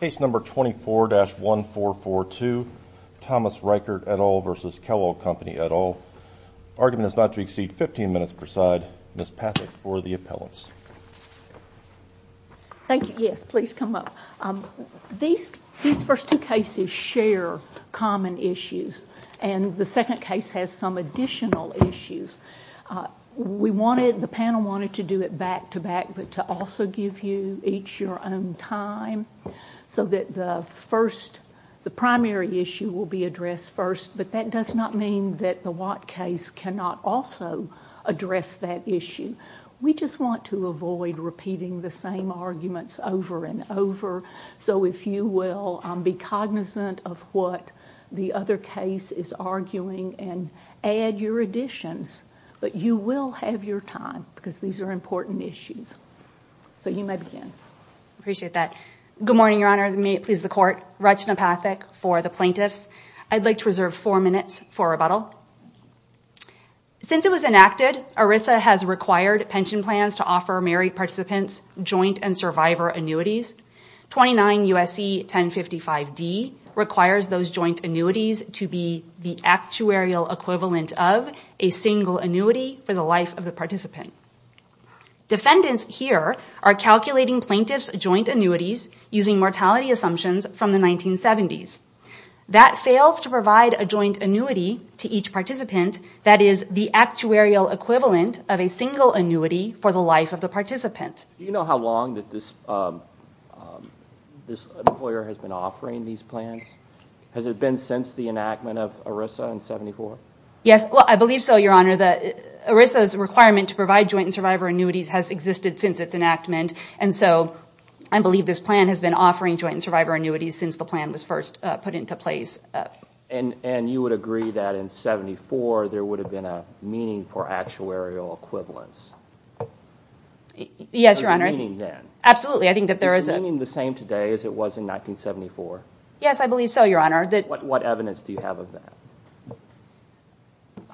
Case No. 24-1442, Thomas Reichert et al. v. Kellogg Company et al. Argument is not to exceed 15 minutes per side. Ms. Pathak for the appellants. Thank you. Yes, please come up. These first two cases share common issues, and the second case has some additional issues. The panel wanted to do it back-to-back, but to also give you each your own time, so that the primary issue will be addressed first, but that does not mean that the what case cannot also address that issue. We just want to avoid repeating the same arguments over and over, so if you will be cognizant of what the other case is arguing and add your additions, but you will have your time because these are important issues. So you may begin. Appreciate that. Good morning, Your Honor. May it please the Court. Rachna Pathak for the plaintiffs. I'd like to reserve four minutes for rebuttal. Since it was enacted, ERISA has required pension plans to offer married participants joint and survivor annuities. 29 U.S.C. 1055-D requires those joint annuities to be the actuarial equivalent of a single annuity for the life of the participant. Defendants here are calculating plaintiffs' joint annuities using mortality assumptions from the 1970s. That fails to provide a joint annuity to each participant that is the actuarial equivalent of a single annuity for the life of the participant. Do you know how long this employer has been offering these plans? Has it been since the enactment of ERISA in 1974? Yes, I believe so, Your Honor. ERISA's requirement to provide joint and survivor annuities has existed since its enactment, and so I believe this plan has been offering joint and survivor annuities since the plan was first put into place. And you would agree that in 1974 there would have been a meaningful actuarial equivalence? Yes, Your Honor. Absolutely, I think that there is... Is the meaning the same today as it was in 1974? Yes, I believe so, Your Honor. What evidence do you have of that?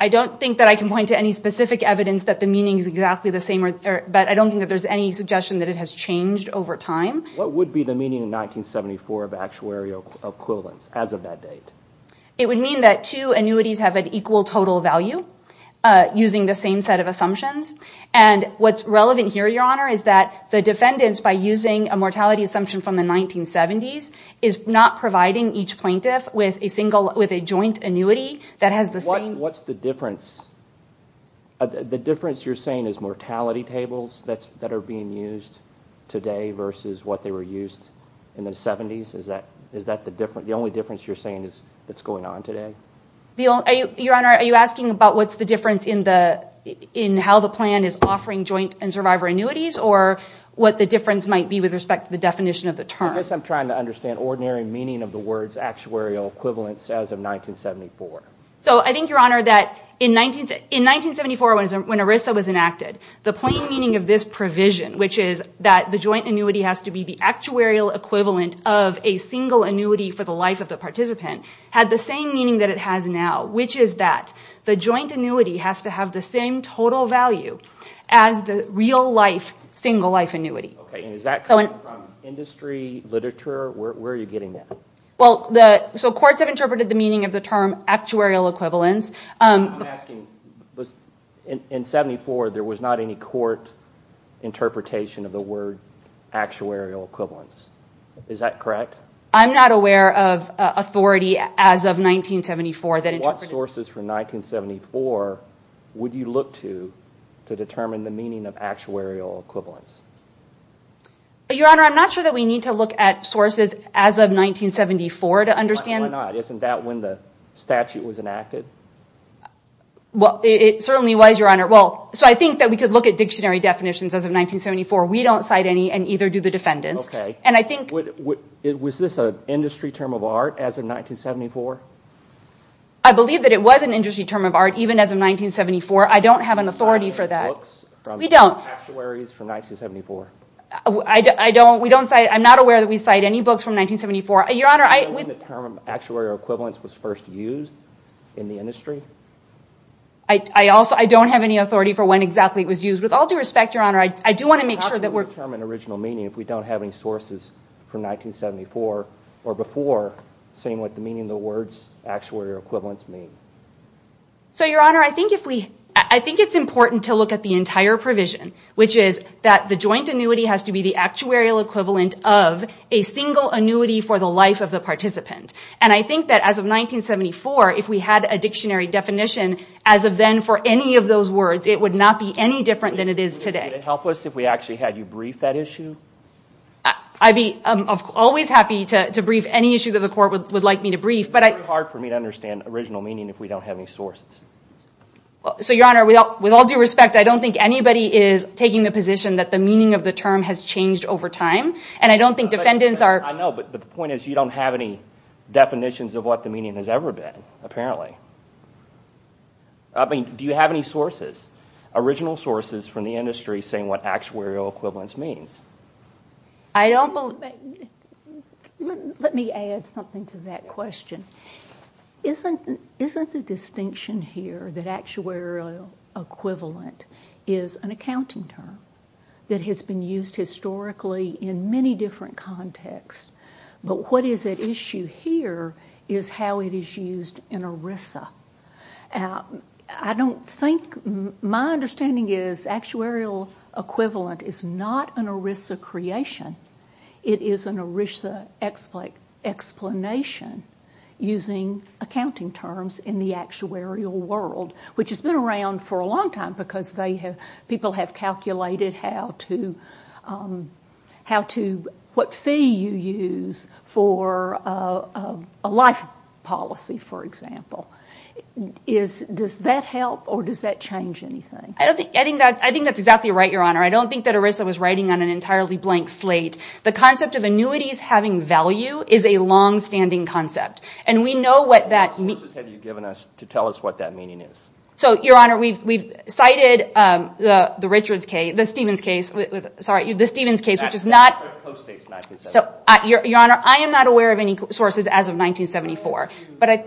I don't think that I can point to any specific evidence that the meaning is exactly the same, but I don't think that there's any suggestion that it has changed over time. What would be the meaning in 1974 of actuarial equivalence as of that date? It would mean that two annuities have an equal total value using the same set of assumptions, and what's relevant here, Your Honor, is that the defendants, by using a mortality assumption from the 1970s, is not providing each plaintiff with a joint annuity that has the same... What's the difference? The difference you're saying is mortality tables that are being used today versus what they were used in the 70s? Is that the only difference you're saying that's going on today? Your Honor, are you asking about what's the difference in how the plan is offering joint and survivor annuities, or what the difference might be with respect to the definition of the term? I guess I'm trying to understand ordinary meaning of the words actuarial equivalence as of 1974. So I think, Your Honor, that in 1974, when ERISA was enacted, the plain meaning of this provision, which is that the joint annuity has to be the actuarial equivalent of a single annuity for the life of the participant, had the same meaning that it has now, which is that the joint annuity has to have the same total value as the real-life, single-life annuity. Okay, and is that coming from industry, literature? Where are you getting that? So courts have interpreted the meaning of the term actuarial equivalence. I'm asking, in 1974, there was not any court interpretation of the word actuarial equivalence. Is that correct? I'm not aware of authority as of 1974 that interpreted it. So what sources from 1974 would you look to to determine the meaning of actuarial equivalence? Your Honor, I'm not sure that we need to look at sources as of 1974 to understand. Why not? Isn't that when the statute was enacted? Well, it certainly was, Your Honor. So I think that we could look at dictionary definitions as of 1974. We don't cite any and either do the defendants. Okay. Was this an industry term of art as of 1974? I believe that it was an industry term of art even as of 1974. I don't have an authority for that. We don't. Actuaries from 1974. I'm not aware that we cite any books from 1974. Your Honor, I... Do you know when the term actuarial equivalence was first used in the industry? I don't have any authority for when exactly it was used. With all due respect, Your Honor, I do want to make sure that we're... How can we determine original meaning if we don't have any sources from 1974 or before saying what the meaning of the words actuarial equivalence mean? So, Your Honor, I think it's important to look at the entire provision, which is that the joint annuity has to be the actuarial equivalent of a single annuity for the life of the participant. And I think that as of 1974, if we had a dictionary definition as of then for any of those words, it would not be any different than it is today. Would it help us if we actually had you brief that issue? I'd be always happy to brief any issue that the court would like me to brief, but I... It's very hard for me to understand original meaning if we don't have any sources. So, Your Honor, with all due respect, I don't think anybody is taking the position that the meaning of the term has changed over time. And I don't think defendants are... I know, but the point is you don't have any definitions of what the meaning has ever been, apparently. I mean, do you have any sources, original sources from the industry saying what actuarial equivalence means? I don't believe... Let me add something to that question. Isn't the distinction here that actuarial equivalent is an accounting term that has been used historically in many different contexts? But what is at issue here is how it is used in ERISA. I don't think... My understanding is actuarial equivalent is not an ERISA creation. It is an ERISA explanation. Using accounting terms in the actuarial world, which has been around for a long time because people have calculated how to... What fee you use for a life policy, for example. Does that help or does that change anything? I think that's exactly right, Your Honor. I don't think that ERISA was writing on an entirely blank slate. The concept of annuities having value is a longstanding concept. And we know what that means. What sources have you given us to tell us what that meaning is? So, Your Honor, we've cited the Richards case, the Stevens case. Sorry, the Stevens case, which is not... That co-states 1974. So, Your Honor, I am not aware of any sources as of 1974. A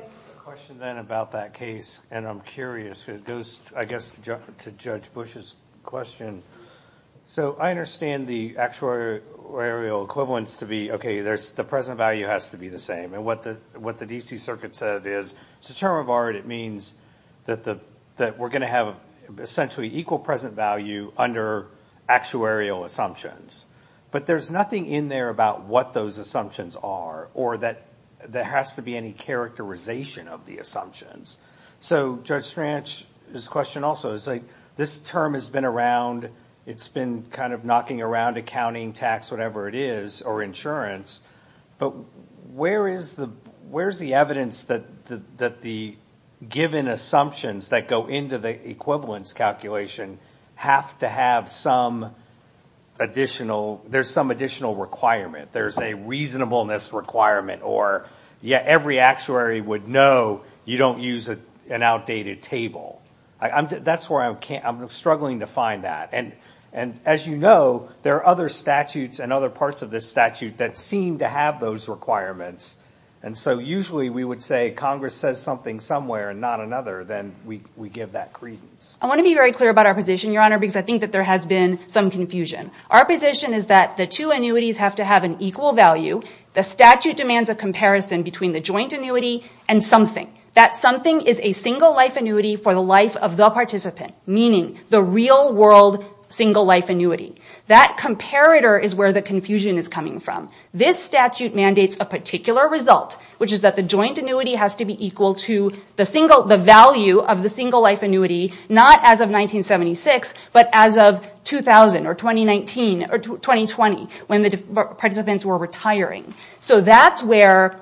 question then about that case, and I'm curious. It goes, I guess, to Judge Bush's question. So I understand the actuarial equivalence to be, okay, the present value has to be the same. And what the D.C. Circuit said is, it's a term of art. It means that we're going to have, essentially, equal present value under actuarial assumptions. But there's nothing in there about what those assumptions are or that there has to be any characterization of the assumptions. So Judge Stranch's question also is, like, this term has been around. It's been kind of knocking around accounting, tax, whatever it is, or insurance. But where is the evidence that the given assumptions that go into the equivalence calculation have to have some additional... There's some additional requirement. There's a reasonableness requirement. Or, yeah, every actuary would know you don't use an outdated table. That's where I'm struggling to find that. And as you know, there are other statutes and other parts of this statute that seem to have those requirements. And so usually we would say, Congress says something somewhere and not another. Then we give that credence. I want to be very clear about our position, Your Honor, because I think that there has been some confusion. Our position is that the two annuities have to have an equal value. The statute demands a comparison between the joint annuity and something. That something is a single-life annuity for the life of the participant, meaning the real-world single-life annuity. That comparator is where the confusion is coming from. This statute mandates a particular result, which is that the joint annuity has to be equal to the value of the single-life annuity, not as of 1976, but as of 2000 or 2019 or 2020, when the participants were retiring. So that's where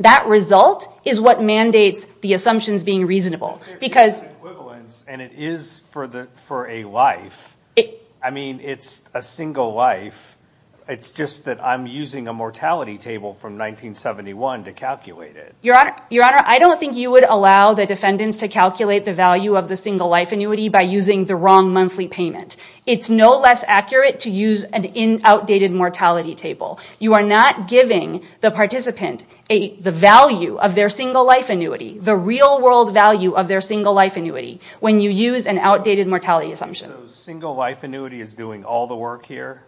that result is what mandates the assumptions being reasonable. If there is equivalence and it is for a life, I mean, it's a single life. It's just that I'm using a mortality table from 1971 to calculate it. Your Honor, I don't think you would allow the defendants to calculate the value of the single-life annuity by using the wrong monthly payment. It's no less accurate to use an outdated mortality table. You are not giving the participant the value of their single-life annuity, the real-world value of their single-life annuity, when you use an outdated mortality assumption. So single-life annuity is doing all the work here?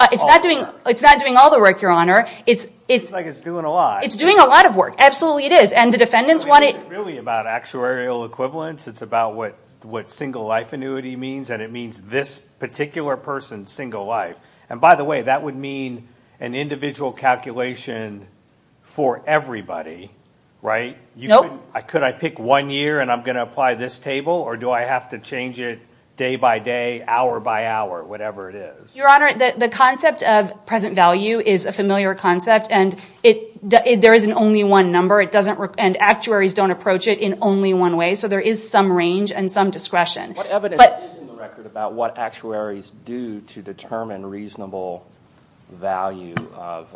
It's not doing all the work, Your Honor. It seems like it's doing a lot. It's doing a lot of work. Absolutely it is. And the defendants want it... It's really about actuarial equivalence. It's about what single-life annuity means, and it means this particular person's single life. And by the way, that would mean an individual calculation for everybody, right? Nope. Could I pick one year and I'm going to apply this table, or do I have to change it day by day, hour by hour, whatever it is? Your Honor, the concept of present value is a familiar concept, and there isn't only one number, and actuaries don't approach it in only one way, so there is some range and some discretion. What evidence is in the record about what actuaries do to determine reasonable value of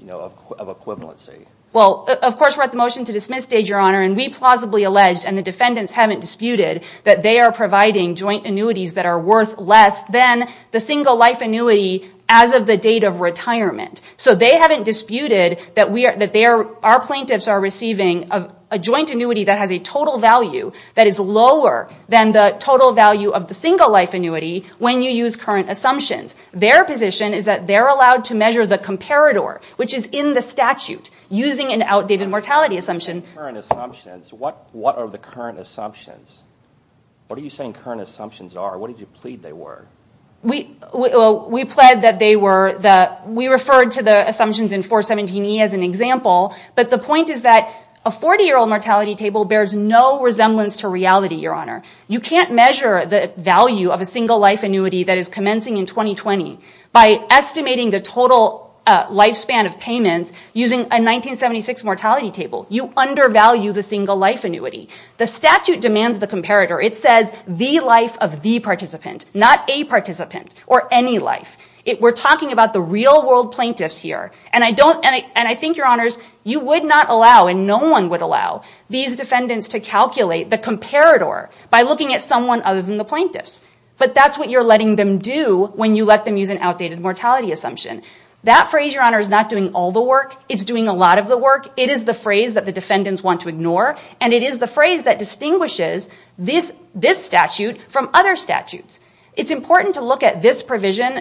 equivalency? Well, of course we're at the motion to dismiss, Your Honor, and we plausibly allege, and the defendants haven't disputed, that they are providing joint annuities that are worth less than the single-life annuity as of the date of retirement. So they haven't disputed that our plaintiffs are receiving a joint annuity that has a total value that is lower than the total value of the single-life annuity when you use current assumptions. Their position is that they're allowed to measure the comparator, which is in the statute. Using an outdated mortality assumption... Current assumptions. What are the current assumptions? What are you saying current assumptions are? What did you plead they were? We pled that they were the... We referred to the assumptions in 417E as an example, but the point is that a 40-year-old mortality table bears no resemblance to reality, Your Honor. You can't measure the value of a single-life annuity that is commencing in 2020 by estimating the total lifespan of payments using a 1976 mortality table. You undervalue the single-life annuity. The statute demands the comparator. It says the life of the participant, not a participant or any life. We're talking about the real-world plaintiffs here. And I think, Your Honors, you would not allow, and no one would allow, these defendants to calculate the comparator by looking at someone other than the plaintiffs. But that's what you're letting them do when you let them use an outdated mortality assumption. That phrase, Your Honor, is not doing all the work. It's doing a lot of the work. It is the phrase that the defendants want to ignore, and it is the phrase that distinguishes this statute from other statutes. It's important to look at this provision.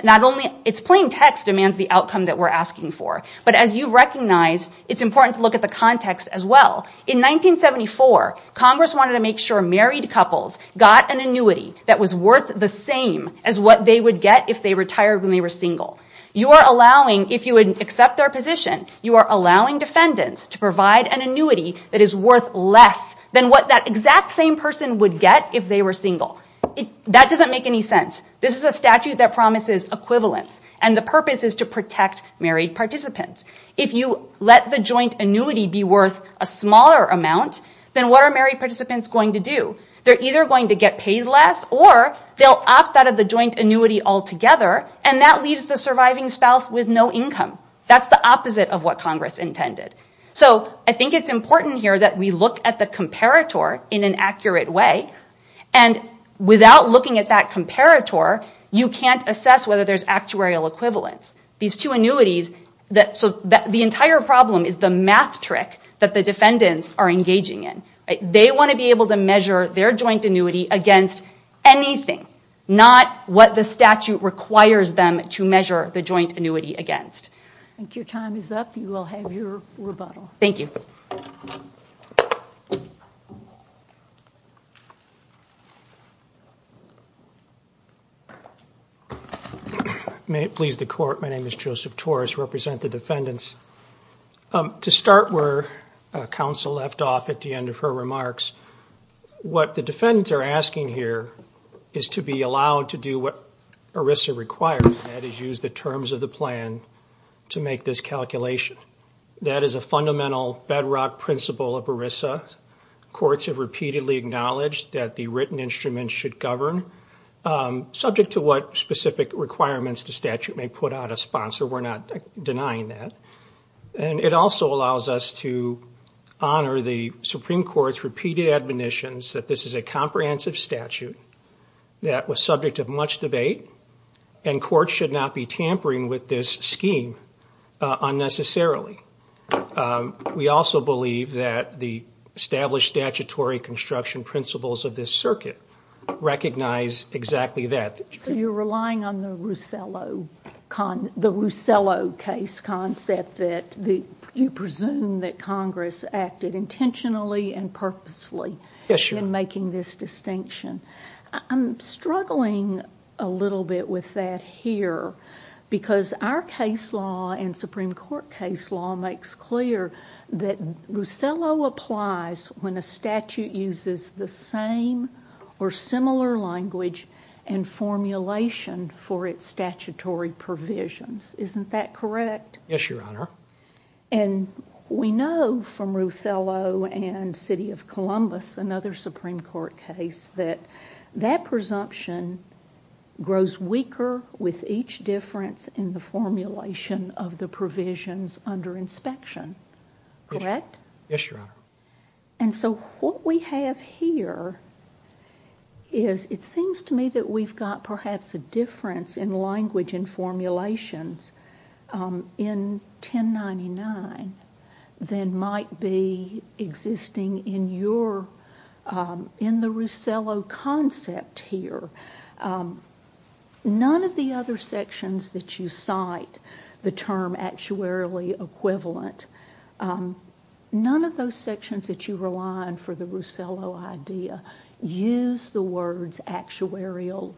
It's plain text demands the outcome that we're asking for. But as you've recognized, it's important to look at the context as well. In 1974, Congress wanted to make sure married couples got an annuity that was worth the same as what they would get if they retired when they were single. You are allowing, if you would accept their position, you are allowing defendants to provide an annuity that is worth less than what that exact same person would get if they were single. That doesn't make any sense. This is a statute that promises equivalence, and the purpose is to protect married participants. If you let the joint annuity be worth a smaller amount, then what are married participants going to do? They're either going to get paid less, or they'll opt out of the joint annuity altogether, and that leaves the surviving spouse with no income. That's the opposite of what Congress intended. So I think it's important here that we look at the comparator in an accurate way, and without looking at that comparator, you can't assess whether there's actuarial equivalence. These two annuities, so the entire problem is the math trick that the defendants are engaging in. They want to be able to measure their joint annuity against anything, not what the statute requires them to measure the joint annuity against. I think your time is up. You will have your rebuttal. Thank you. May it please the Court, my name is Joseph Torres. I represent the defendants. To start where counsel left off at the end of her remarks, what the defendants are asking here is to be allowed to do what ERISA requires, that is, use the terms of the plan to make this calculation. That is a fundamental bedrock principle of ERISA. Courts have repeatedly acknowledged that the written instruments should govern, subject to what specific requirements the statute may put out as sponsor. We're not denying that. And it also allows us to honor the Supreme Court's repeated admonitions that this is a comprehensive statute that was subject to much debate, and courts should not be tampering with this scheme unnecessarily. We also believe that the established statutory construction principles of this circuit recognize exactly that. So you're relying on the Russello case concept that you presume that Congress acted intentionally and purposefully. Yes, Your Honor. In making this distinction. I'm struggling a little bit with that here because our case law and Supreme Court case law makes clear that Russello applies when a statute uses the same or similar language and formulation for its statutory provisions. Isn't that correct? Yes, Your Honor. And we know from Russello and City of Columbus, another Supreme Court case, that that presumption grows weaker with each difference in the formulation of the provisions under inspection. Correct? Yes, Your Honor. And so what we have here is it seems to me that we've got perhaps a difference in language and formulations in 1099 than might be existing in your, in the Russello concept here. None of the other sections that you cite the term actuarially equivalent, none of those sections that you rely on for the Russello idea use the words actuarial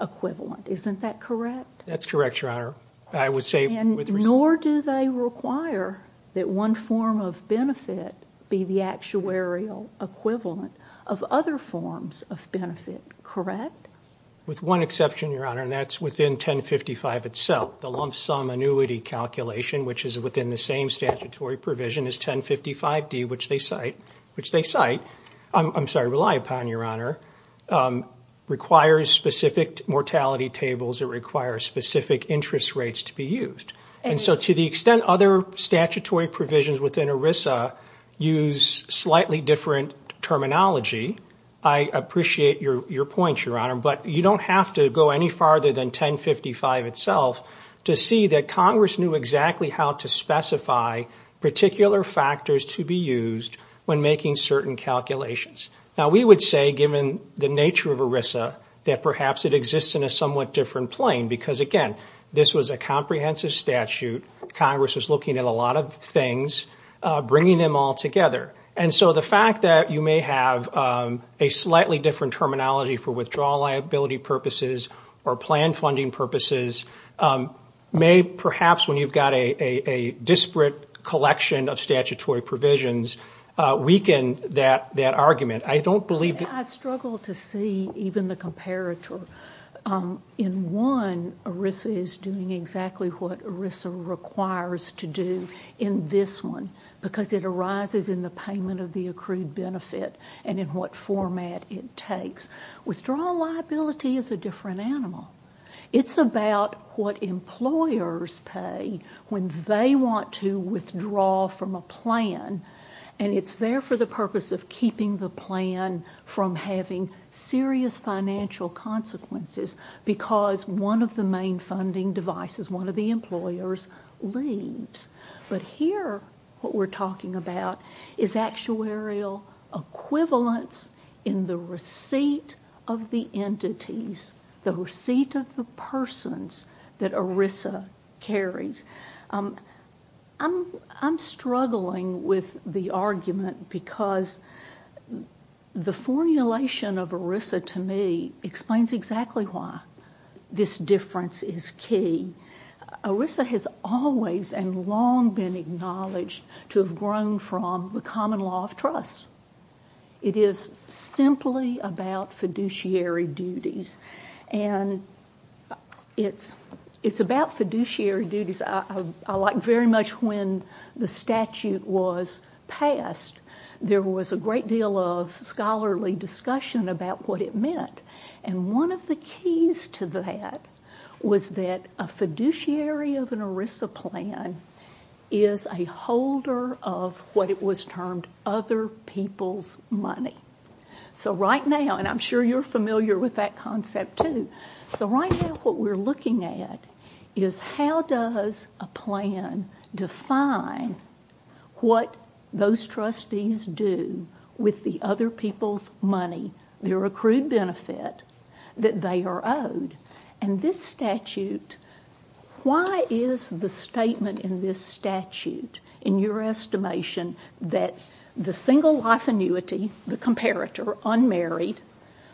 equivalent. Isn't that correct? That's correct, Your Honor. And nor do they require that one form of benefit be the actuarial equivalent of other forms of benefit. Correct? With one exception, Your Honor, and that's within 1055 itself. The lump sum annuity calculation, which is within the same statutory provision as 1055D, which they cite, I'm sorry, rely upon, Your Honor, requires specific mortality tables. It requires specific interest rates to be used. And so to the extent other statutory provisions within ERISA use slightly different terminology, I appreciate your point, Your Honor, but you don't have to go any farther than 1055 itself to see that Congress knew exactly how to specify particular factors to be used when making certain calculations. Now we would say, given the nature of ERISA, that perhaps it exists in a somewhat different plane because, again, this was a comprehensive statute. Congress was looking at a lot of things, bringing them all together. And so the fact that you may have a slightly different terminology for withdrawal liability purposes or plan funding purposes may perhaps, when you've got a disparate collection of statutory provisions, weaken that argument. I don't believe... I struggle to see even the comparator. In one, ERISA is doing exactly what ERISA requires to do. In this one, because it arises in the payment of the accrued benefit and in what format it takes. Withdrawal liability is a different animal. It's about what employers pay when they want to withdraw from a plan. And it's there for the purpose of keeping the plan from having serious financial consequences because one of the main funding devices, one of the employers, leaves. But here, what we're talking about is actuarial equivalence in the receipt of the entities, the receipt of the persons that ERISA carries. I'm struggling with the argument because the formulation of ERISA to me explains exactly why this difference is key. ERISA has always and long been acknowledged to have grown from the common law of trust. It is simply about fiduciary duties. And it's about fiduciary duties. I like very much when the statute was passed, there was a great deal of scholarly discussion about what it meant. And one of the keys to that was that a fiduciary of an ERISA plan is a holder of what it was termed other people's money. So right now, and I'm sure you're familiar with that concept too, so right now what we're looking at is how does a plan define what those trustees do with the other people's money, their accrued benefit that they are owed. And this statute, why is the statement in this statute, in your estimation, that the single life annuity, the comparator, unmarried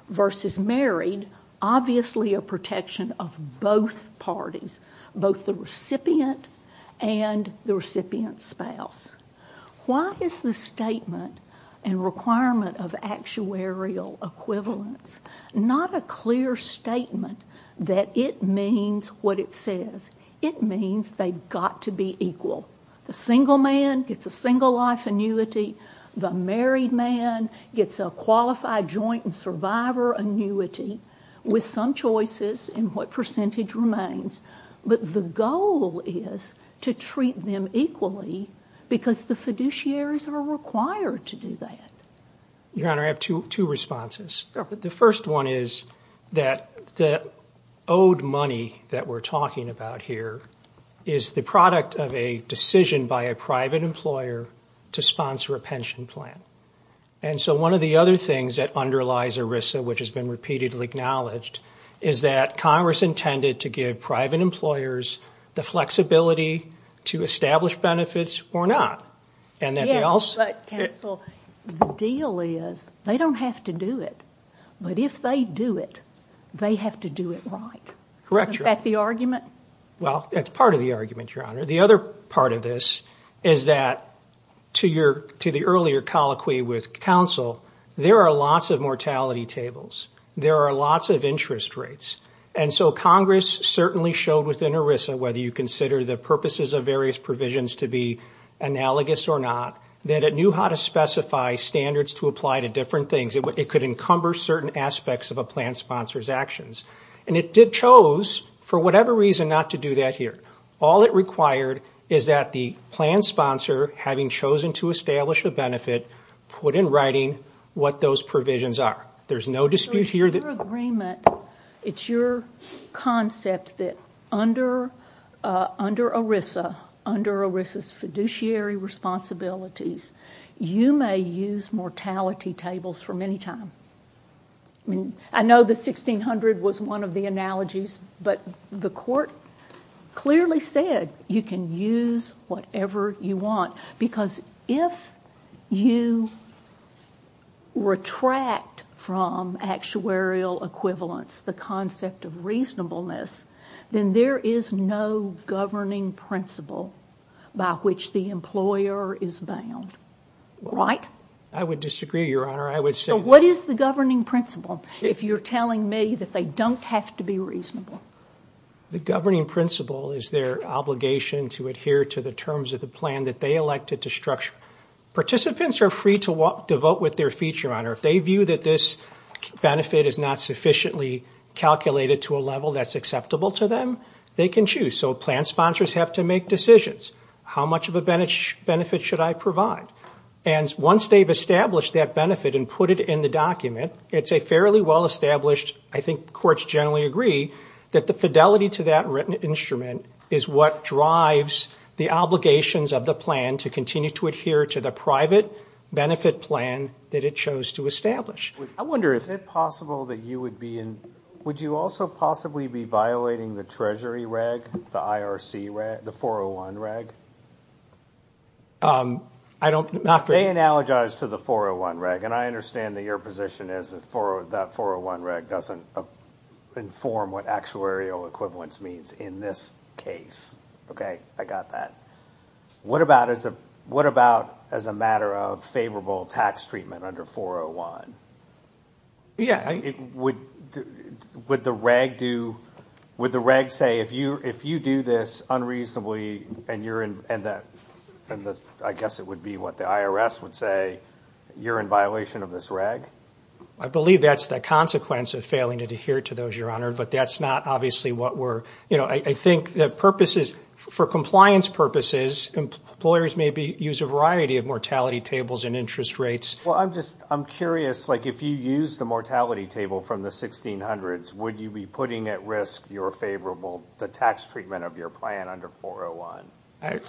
versus married, obviously a protection of both parties, both the recipient and the recipient's spouse. Why is the statement and requirement of actuarial equivalence not a clear statement that it means what it says? It means they've got to be equal. The single man gets a single life annuity, the married man gets a qualified joint and survivor annuity with some choices in what percentage remains. But the goal is to treat them equally because the fiduciaries are required to do that. Your Honor, I have two responses. The first one is that the owed money that we're talking about here is the product of a decision by a private employer to sponsor a pension plan. And so one of the other things that underlies ERISA, which has been repeatedly acknowledged, is that Congress intended to give private employers the flexibility to establish benefits or not. Yes, but, counsel, the deal is they don't have to do it. But if they do it, they have to do it right. Correct, Your Honor. Isn't that the argument? Well, that's part of the argument, Your Honor. The other part of this is that, to the earlier colloquy with counsel, there are lots of mortality tables. There are lots of interest rates. And so Congress certainly showed within ERISA, whether you consider the purposes of various provisions to be analogous or not, that it knew how to specify standards to apply to different things. It could encumber certain aspects of a plan sponsor's actions. And it chose, for whatever reason, not to do that here. All it required is that the plan sponsor, having chosen to establish a benefit, put in writing what those provisions are. There's no dispute here that... So it's your agreement, it's your concept, that under ERISA, under ERISA's fiduciary responsibilities, you may use mortality tables for many times. I mean, I know the 1600 was one of the analogies, but the court clearly said you can use whatever you want. Because if you retract from actuarial equivalence, the concept of reasonableness, then there is no governing principle by which the employer is bound. Right? I would disagree, Your Honor. I would say... So what is the governing principle, if you're telling me that they don't have to be reasonable? The governing principle is their obligation to adhere to the terms of the plan that they elected to structure. Participants are free to vote with their feet, Your Honor. If they view that this benefit is not sufficiently calculated to a level that's acceptable to them, they can choose. So plan sponsors have to make decisions. How much of a benefit should I provide? And once they've established that benefit and put it in the document, it's a fairly well-established, I think courts generally agree, that the fidelity to that written instrument is what drives the obligations of the plan to continue to adhere to the private benefit plan that it chose to establish. I wonder, is it possible that you would be in... Would you be violating the Treasury reg, the IRC reg, the 401 reg? I don't... They analogize to the 401 reg, and I understand that your position is that 401 reg doesn't inform what actuarial equivalence means in this case. Okay, I got that. What about as a matter of favorable tax treatment under 401? Yeah, I... Would the reg do... Would the reg say, if you do this unreasonably, and you're in... I guess it would be what the IRS would say, you're in violation of this reg? I believe that's the consequence of failing to adhere to those, Your Honor, but that's not obviously what we're... You know, I think the purpose is... For compliance purposes, employers maybe use a variety of mortality tables and interest rates. Well, I'm curious, like if you use the mortality table from the 1600s, would you be putting at risk your favorable... the tax treatment of your plan under 401? I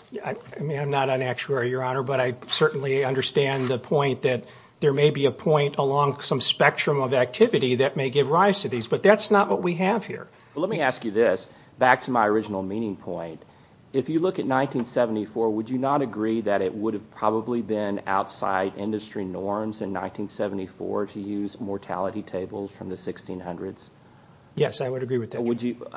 mean, I'm not an actuary, Your Honor, but I certainly understand the point that there may be a point along some spectrum of activity that may give rise to these, but that's not what we have here. Well, let me ask you this, back to my original meaning point. If you look at 1974, would you not agree that it would have probably been outside industry norms in 1974 to use mortality tables from the 1600s? Yes, I would agree with that. Would you...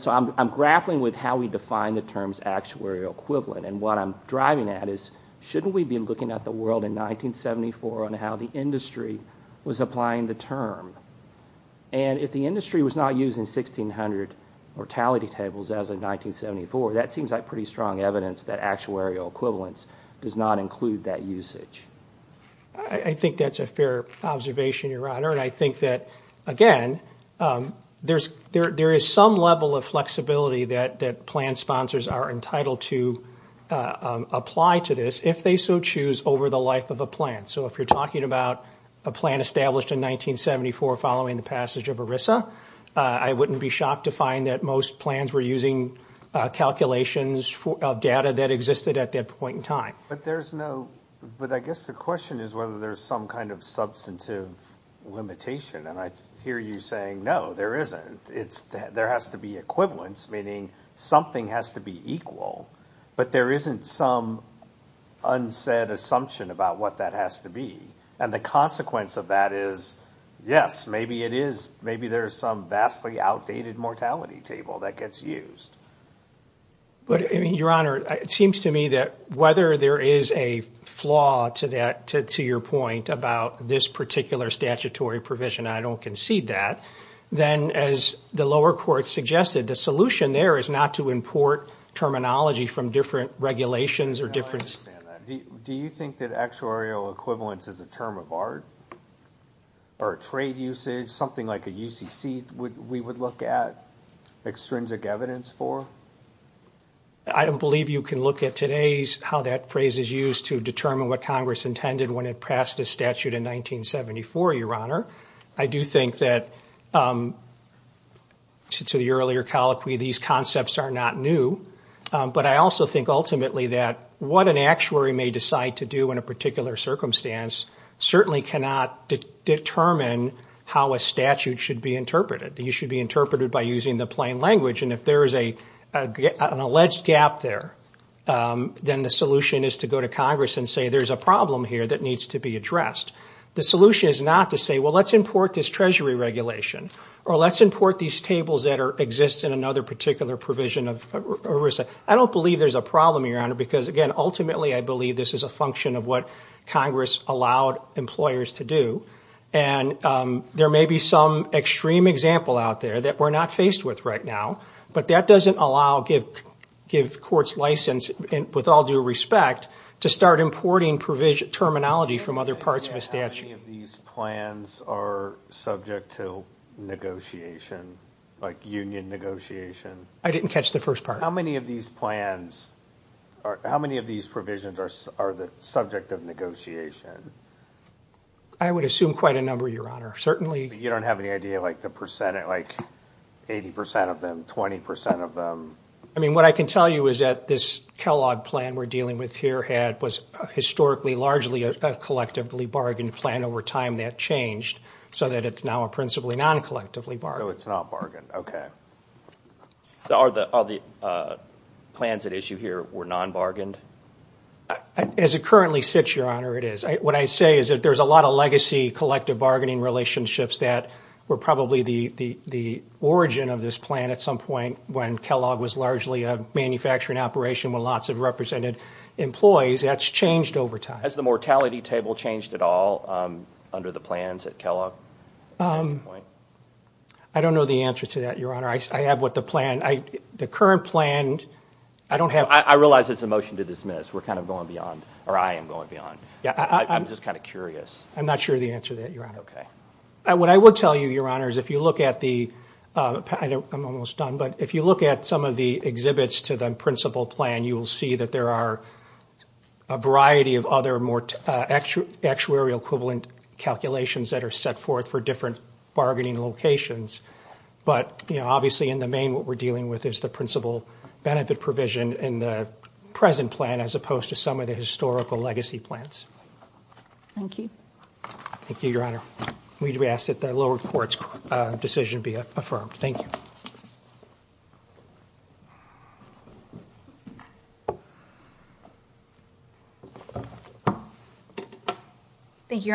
So I'm grappling with how we define the term's actuarial equivalent, and what I'm driving at is shouldn't we be looking at the world in 1974 on how the industry was applying the term? And if the industry was not using 1600 mortality tables as in 1974, that seems like pretty strong evidence that actuarial equivalence does not include that usage. I think that's a fair observation, Your Honor, and I think that, again, there is some level of flexibility that plan sponsors are entitled to apply to this if they so choose over the life of a plan. So if you're talking about a plan established in 1974 following the passage of ERISA, I wouldn't be shocked to find that most plans were using calculations of data that existed at that point in time. But there's no... But I guess the question is whether there's some kind of substantive limitation, and I hear you saying, no, there isn't. There has to be equivalence, meaning something has to be equal, but there isn't some unsaid assumption about what that has to be, and the consequence of that is, yes, maybe it is. Maybe there's some vastly outdated mortality table that gets used. But, Your Honor, it seems to me that whether there is a flaw to your point about this particular statutory provision, and I don't concede that, then, as the lower court suggested, the solution there is not to import terminology from different regulations or different... No, I understand that. Do you think that actuarial equivalence is a term of art or a trade usage, something like a UCC we would look at extrinsic evidence for? I don't believe you can look at today's how that phrase is used to determine what Congress intended when it passed the statute in 1974, Your Honor. I do think that, to the earlier colloquy, these concepts are not new, but I also think ultimately that what an actuary may decide to do in a particular circumstance certainly cannot determine how a statute should be interpreted. You should be interpreted by using the plain language, and if there is an alleged gap there, then the solution is to go to Congress and say, there's a problem here that needs to be addressed. The solution is not to say, well, let's import this Treasury regulation or let's import these tables that exist in another particular provision of oversight. I don't believe there's a problem, Your Honor, because, again, ultimately, I believe this is a function of what Congress allowed employers to do, and there may be some extreme example out there that we're not faced with right now, but that doesn't allow, give courts license, with all due respect, to start importing terminology from other parts of a statute. How many of these plans are subject to negotiation, like union negotiation? I didn't catch the first part. How many of these plans, how many of these provisions are the subject of negotiation? I would assume quite a number, Your Honor, certainly. You don't have any idea, like, the percent, like 80% of them, 20% of them? I mean, what I can tell you is that this Kellogg plan we're dealing with here was historically largely a collectively bargained plan. Over time, that changed so that it's now principally non-collectively bargained. So it's not bargained, okay. So all the plans at issue here were non-bargained? As it currently sits, Your Honor, it is. What I say is that there's a lot of legacy collective bargaining relationships that were probably the origin of this plan at some point when Kellogg was largely a manufacturing operation with lots of represented employees. That's changed over time. Has the mortality table changed at all under the plans at Kellogg? I don't know the answer to that, Your Honor. I have what the plan... The current plan, I don't have... I realize it's a motion to dismiss. We're kind of going beyond, or I am going beyond. I'm just kind of curious. I'm not sure of the answer to that, Your Honor. What I would tell you, Your Honor, is if you look at the... I'm almost done, but if you look at some of the exhibits to the principal plan, you will see that there are a variety of other more actuarial equivalent calculations that are set forth for different bargaining locations. But obviously in the main, what we're dealing with is the principal benefit provision in the present plan as opposed to some of the historical legacy plans. Thank you. Thank you, Your Honor. We ask that the lower court's decision be affirmed. Thank you. Thank you.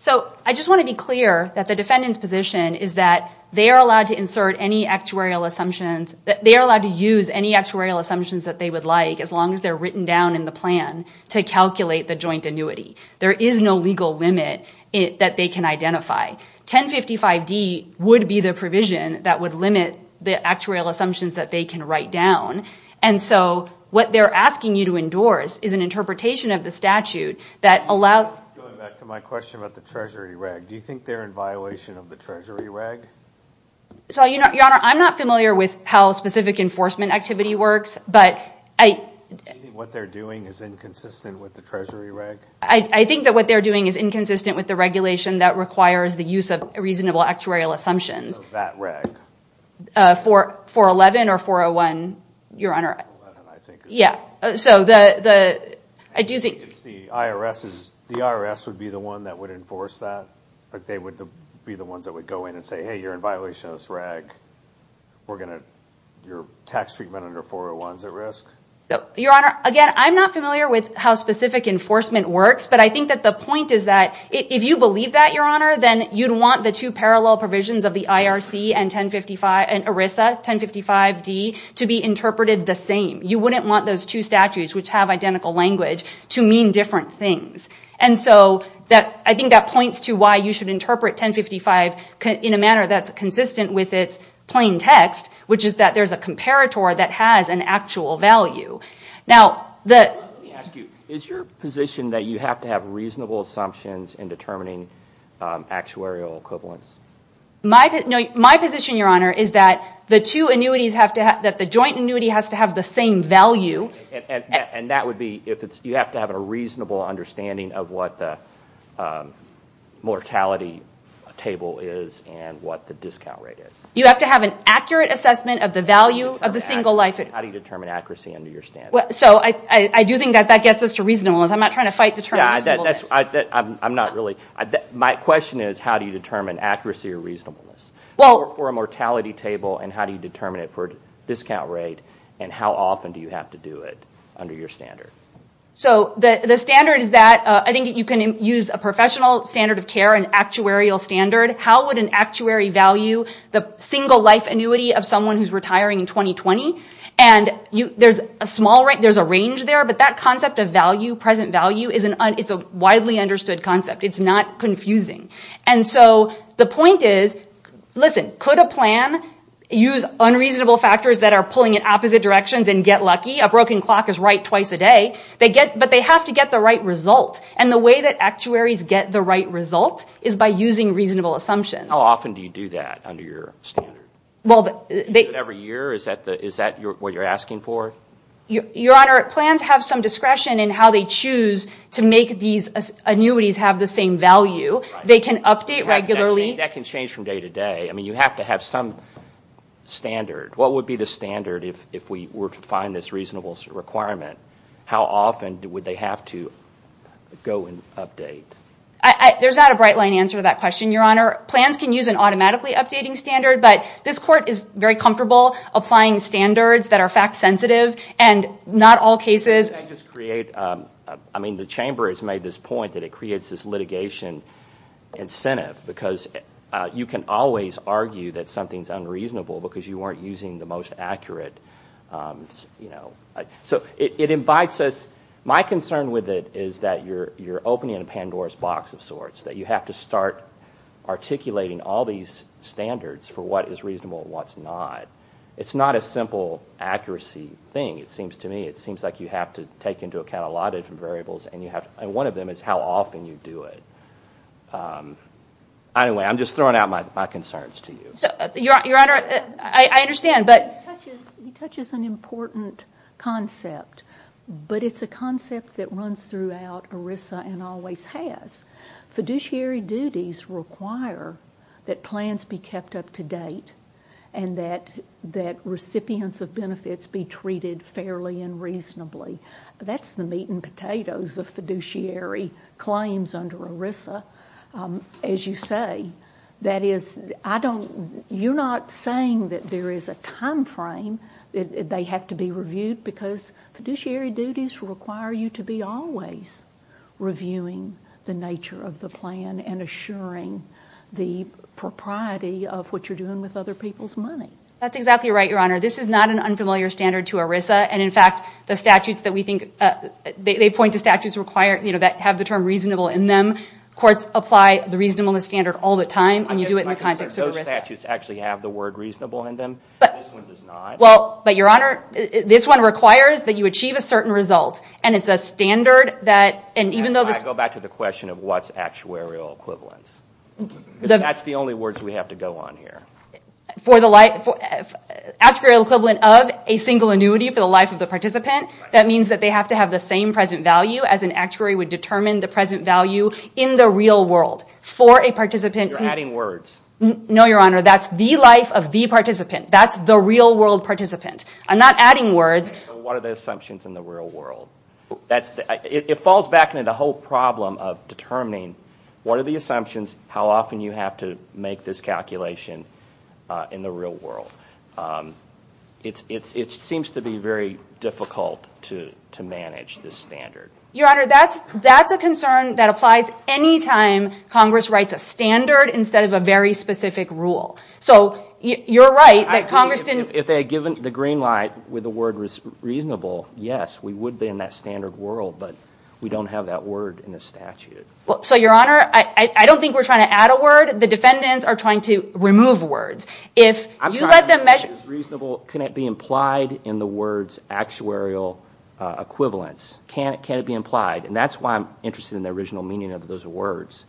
So I just want to be clear that the defendant's position is that they are allowed to insert any actuarial assumptions... They are allowed to use any actuarial assumptions that they would like as long as they're written down in the plan to calculate the joint annuity. There is no legal limit that they can identify. 1055D would be the provision that would limit the actuarial assumptions that they can write down. And so what they're asking you to endorse is an interpretation of the statute that allows... Going back to my question about the treasury reg, do you think they're in violation of the treasury reg? Your Honor, I'm not familiar with how specific enforcement activity works, but I... Do you think what they're doing is inconsistent with the treasury reg? I think that what they're doing is inconsistent with the regulation that requires the use of reasonable actuarial assumptions. That reg. 411 or 401, Your Honor. 411, I think. Yeah, so the... I do think it's the IRS's... The IRS would be the one that would enforce that. Like, they would be the ones that would go in and say, hey, you're in violation of this reg. We're going to... Your tax treatment under 401 is at risk. Your Honor, again, I'm not familiar with how specific enforcement works, but I think that the point is that if you believe that, Your Honor, then you'd want the two parallel provisions of the IRC and 1055... And ERISA, 1055D, to be interpreted the same. You wouldn't want those two statutes, which have identical language, to mean different things. And so I think that points to why you should interpret 1055 in a manner that's consistent with its plain text, which is that there's a comparator that has an actual value. Now, the... Let me ask you, is your position that you have to have reasonable assumptions in determining actuarial equivalence? My position, Your Honor, is that the two annuities have to have... That the joint annuity has to have the same value. And that would be if it's... You have to have a reasonable understanding of what the mortality table is and what the discount rate is. You have to have an accurate assessment of the value of the single life... How do you determine accuracy under your standards? So I do think that that gets us to reasonableness. I'm not trying to fight the term reasonableness. I'm not really... My question is, how do you determine accuracy or reasonableness? For a mortality table, and how do you determine it for a discount rate? And how often do you have to do it under your standard? So the standard is that... I think you can use a professional standard of care, an actuarial standard. How would an actuary value the single life annuity of someone who's retiring in 2020? And there's a range there, but that concept of value, present value, it's a widely understood concept. It's not confusing. And so the point is... Listen, could a plan use unreasonable factors that are pulling in opposite directions and get lucky? A broken clock is right twice a day. But they have to get the right result. And the way that actuaries get the right result is by using reasonable assumptions. How often do you do that under your standard? Every year? Is that what you're asking for? Your Honor, plans have some discretion in how they choose to make these annuities have the same value. They can update regularly. That can change from day to day. You have to have some standard. What would be the standard if we were to find this reasonable requirement? How often would they have to go and update? There's not a bright-line answer to that question, Your Honor. Plans can use an automatically updating standard, but this Court is very comfortable applying standards that are fact-sensitive. And not all cases... Can I just create... The Chamber has made this point that it creates this litigation incentive because you can always argue that something's unreasonable because you weren't using the most accurate... So it invites us... My concern with it is that you're opening a Pandora's box of sorts, that you have to start articulating all these standards for what is reasonable and what's not. It's not a simple accuracy thing, it seems to me. It seems like you have to take into account a lot of different variables, and one of them is how often you do it. Anyway, I'm just throwing out my concerns to you. Your Honor, I understand, but... He touches an important concept, but it's a concept that runs throughout ERISA and always has. Fiduciary duties require that plans be kept up to date and that recipients of benefits be treated fairly and reasonably. That's the meat and potatoes of fiduciary claims under ERISA. As you say, that is... I don't... You're not saying that there is a time frame that they have to be reviewed because fiduciary duties require you to be always reviewing the nature of the plan and assuring the propriety of what you're doing with other people's money. That's exactly right, Your Honor. This is not an unfamiliar standard to ERISA, and in fact, the statutes that we think... They point to statutes that have the term reasonable in them. Courts apply the reasonableness standard all the time, and you do it in the context of ERISA. Those statutes actually have the word reasonable in them. This one does not. But, Your Honor, this one requires that you achieve a certain result, and it's a standard that... I go back to the question of what's actuarial equivalence. That's the only words we have to go on here. Actuarial equivalent of a single annuity for the life of the participant, that means that they have to have the same present value as an actuary would determine the present value in the real world. For a participant... You're adding words. No, Your Honor. That's the life of the participant. That's the real-world participant. I'm not adding words. What are the assumptions in the real world? It falls back into the whole problem of determining what are the assumptions, how often you have to make this calculation in the real world. It seems to be very difficult to manage this standard. Your Honor, that's a concern that applies anytime Congress writes a standard instead of a very specific rule. So, you're right that Congress didn't... If they had given the green light with the word reasonable, yes, we would be in that standard world, but we don't have that word in the statute. So, Your Honor, I don't think we're trying to add a word. The defendants are trying to remove words. If you let them measure... I'm trying to measure reasonable. Can it be implied in the words actuarial equivalence? Can it be implied? And that's why I'm interested in the original meaning of those words.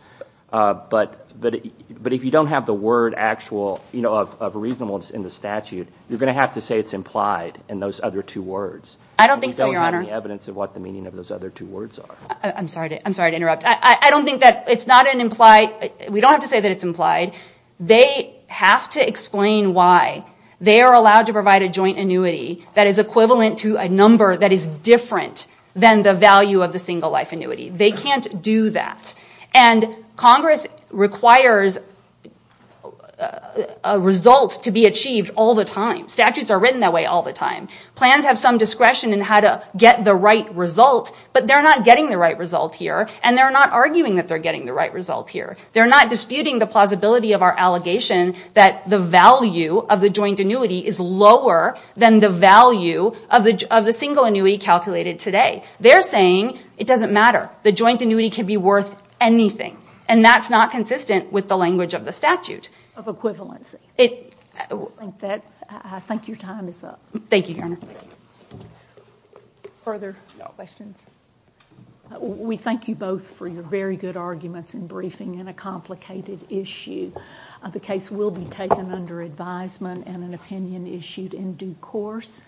But if you don't have the word actual of reasonable in the statute, you're going to have to say it's implied in those other two words. I don't think so, Your Honor. And that would be evidence of what the meaning of those other two words are. I'm sorry to interrupt. I don't think that it's not an implied... We don't have to say that it's implied. They have to explain why they are allowed to provide a joint annuity that is equivalent to a number that is different than the value of the single life annuity. They can't do that. And Congress requires a result to be achieved all the time. Statutes are written that way all the time. Plans have some discretion in how to get the right result, but they're not getting the right result here, and they're not arguing that they're getting the right result here. They're not disputing the plausibility of our allegation that the value of the joint annuity is lower than the value of the single annuity calculated today. They're saying it doesn't matter. The joint annuity can be worth anything, and that's not consistent with the language of the statute. Of equivalency. I think your time is up. Thank you, Your Honor. Further questions? We thank you both for your very good arguments and briefing in a complicated issue. The case will be taken under advisement and an opinion issued in due course.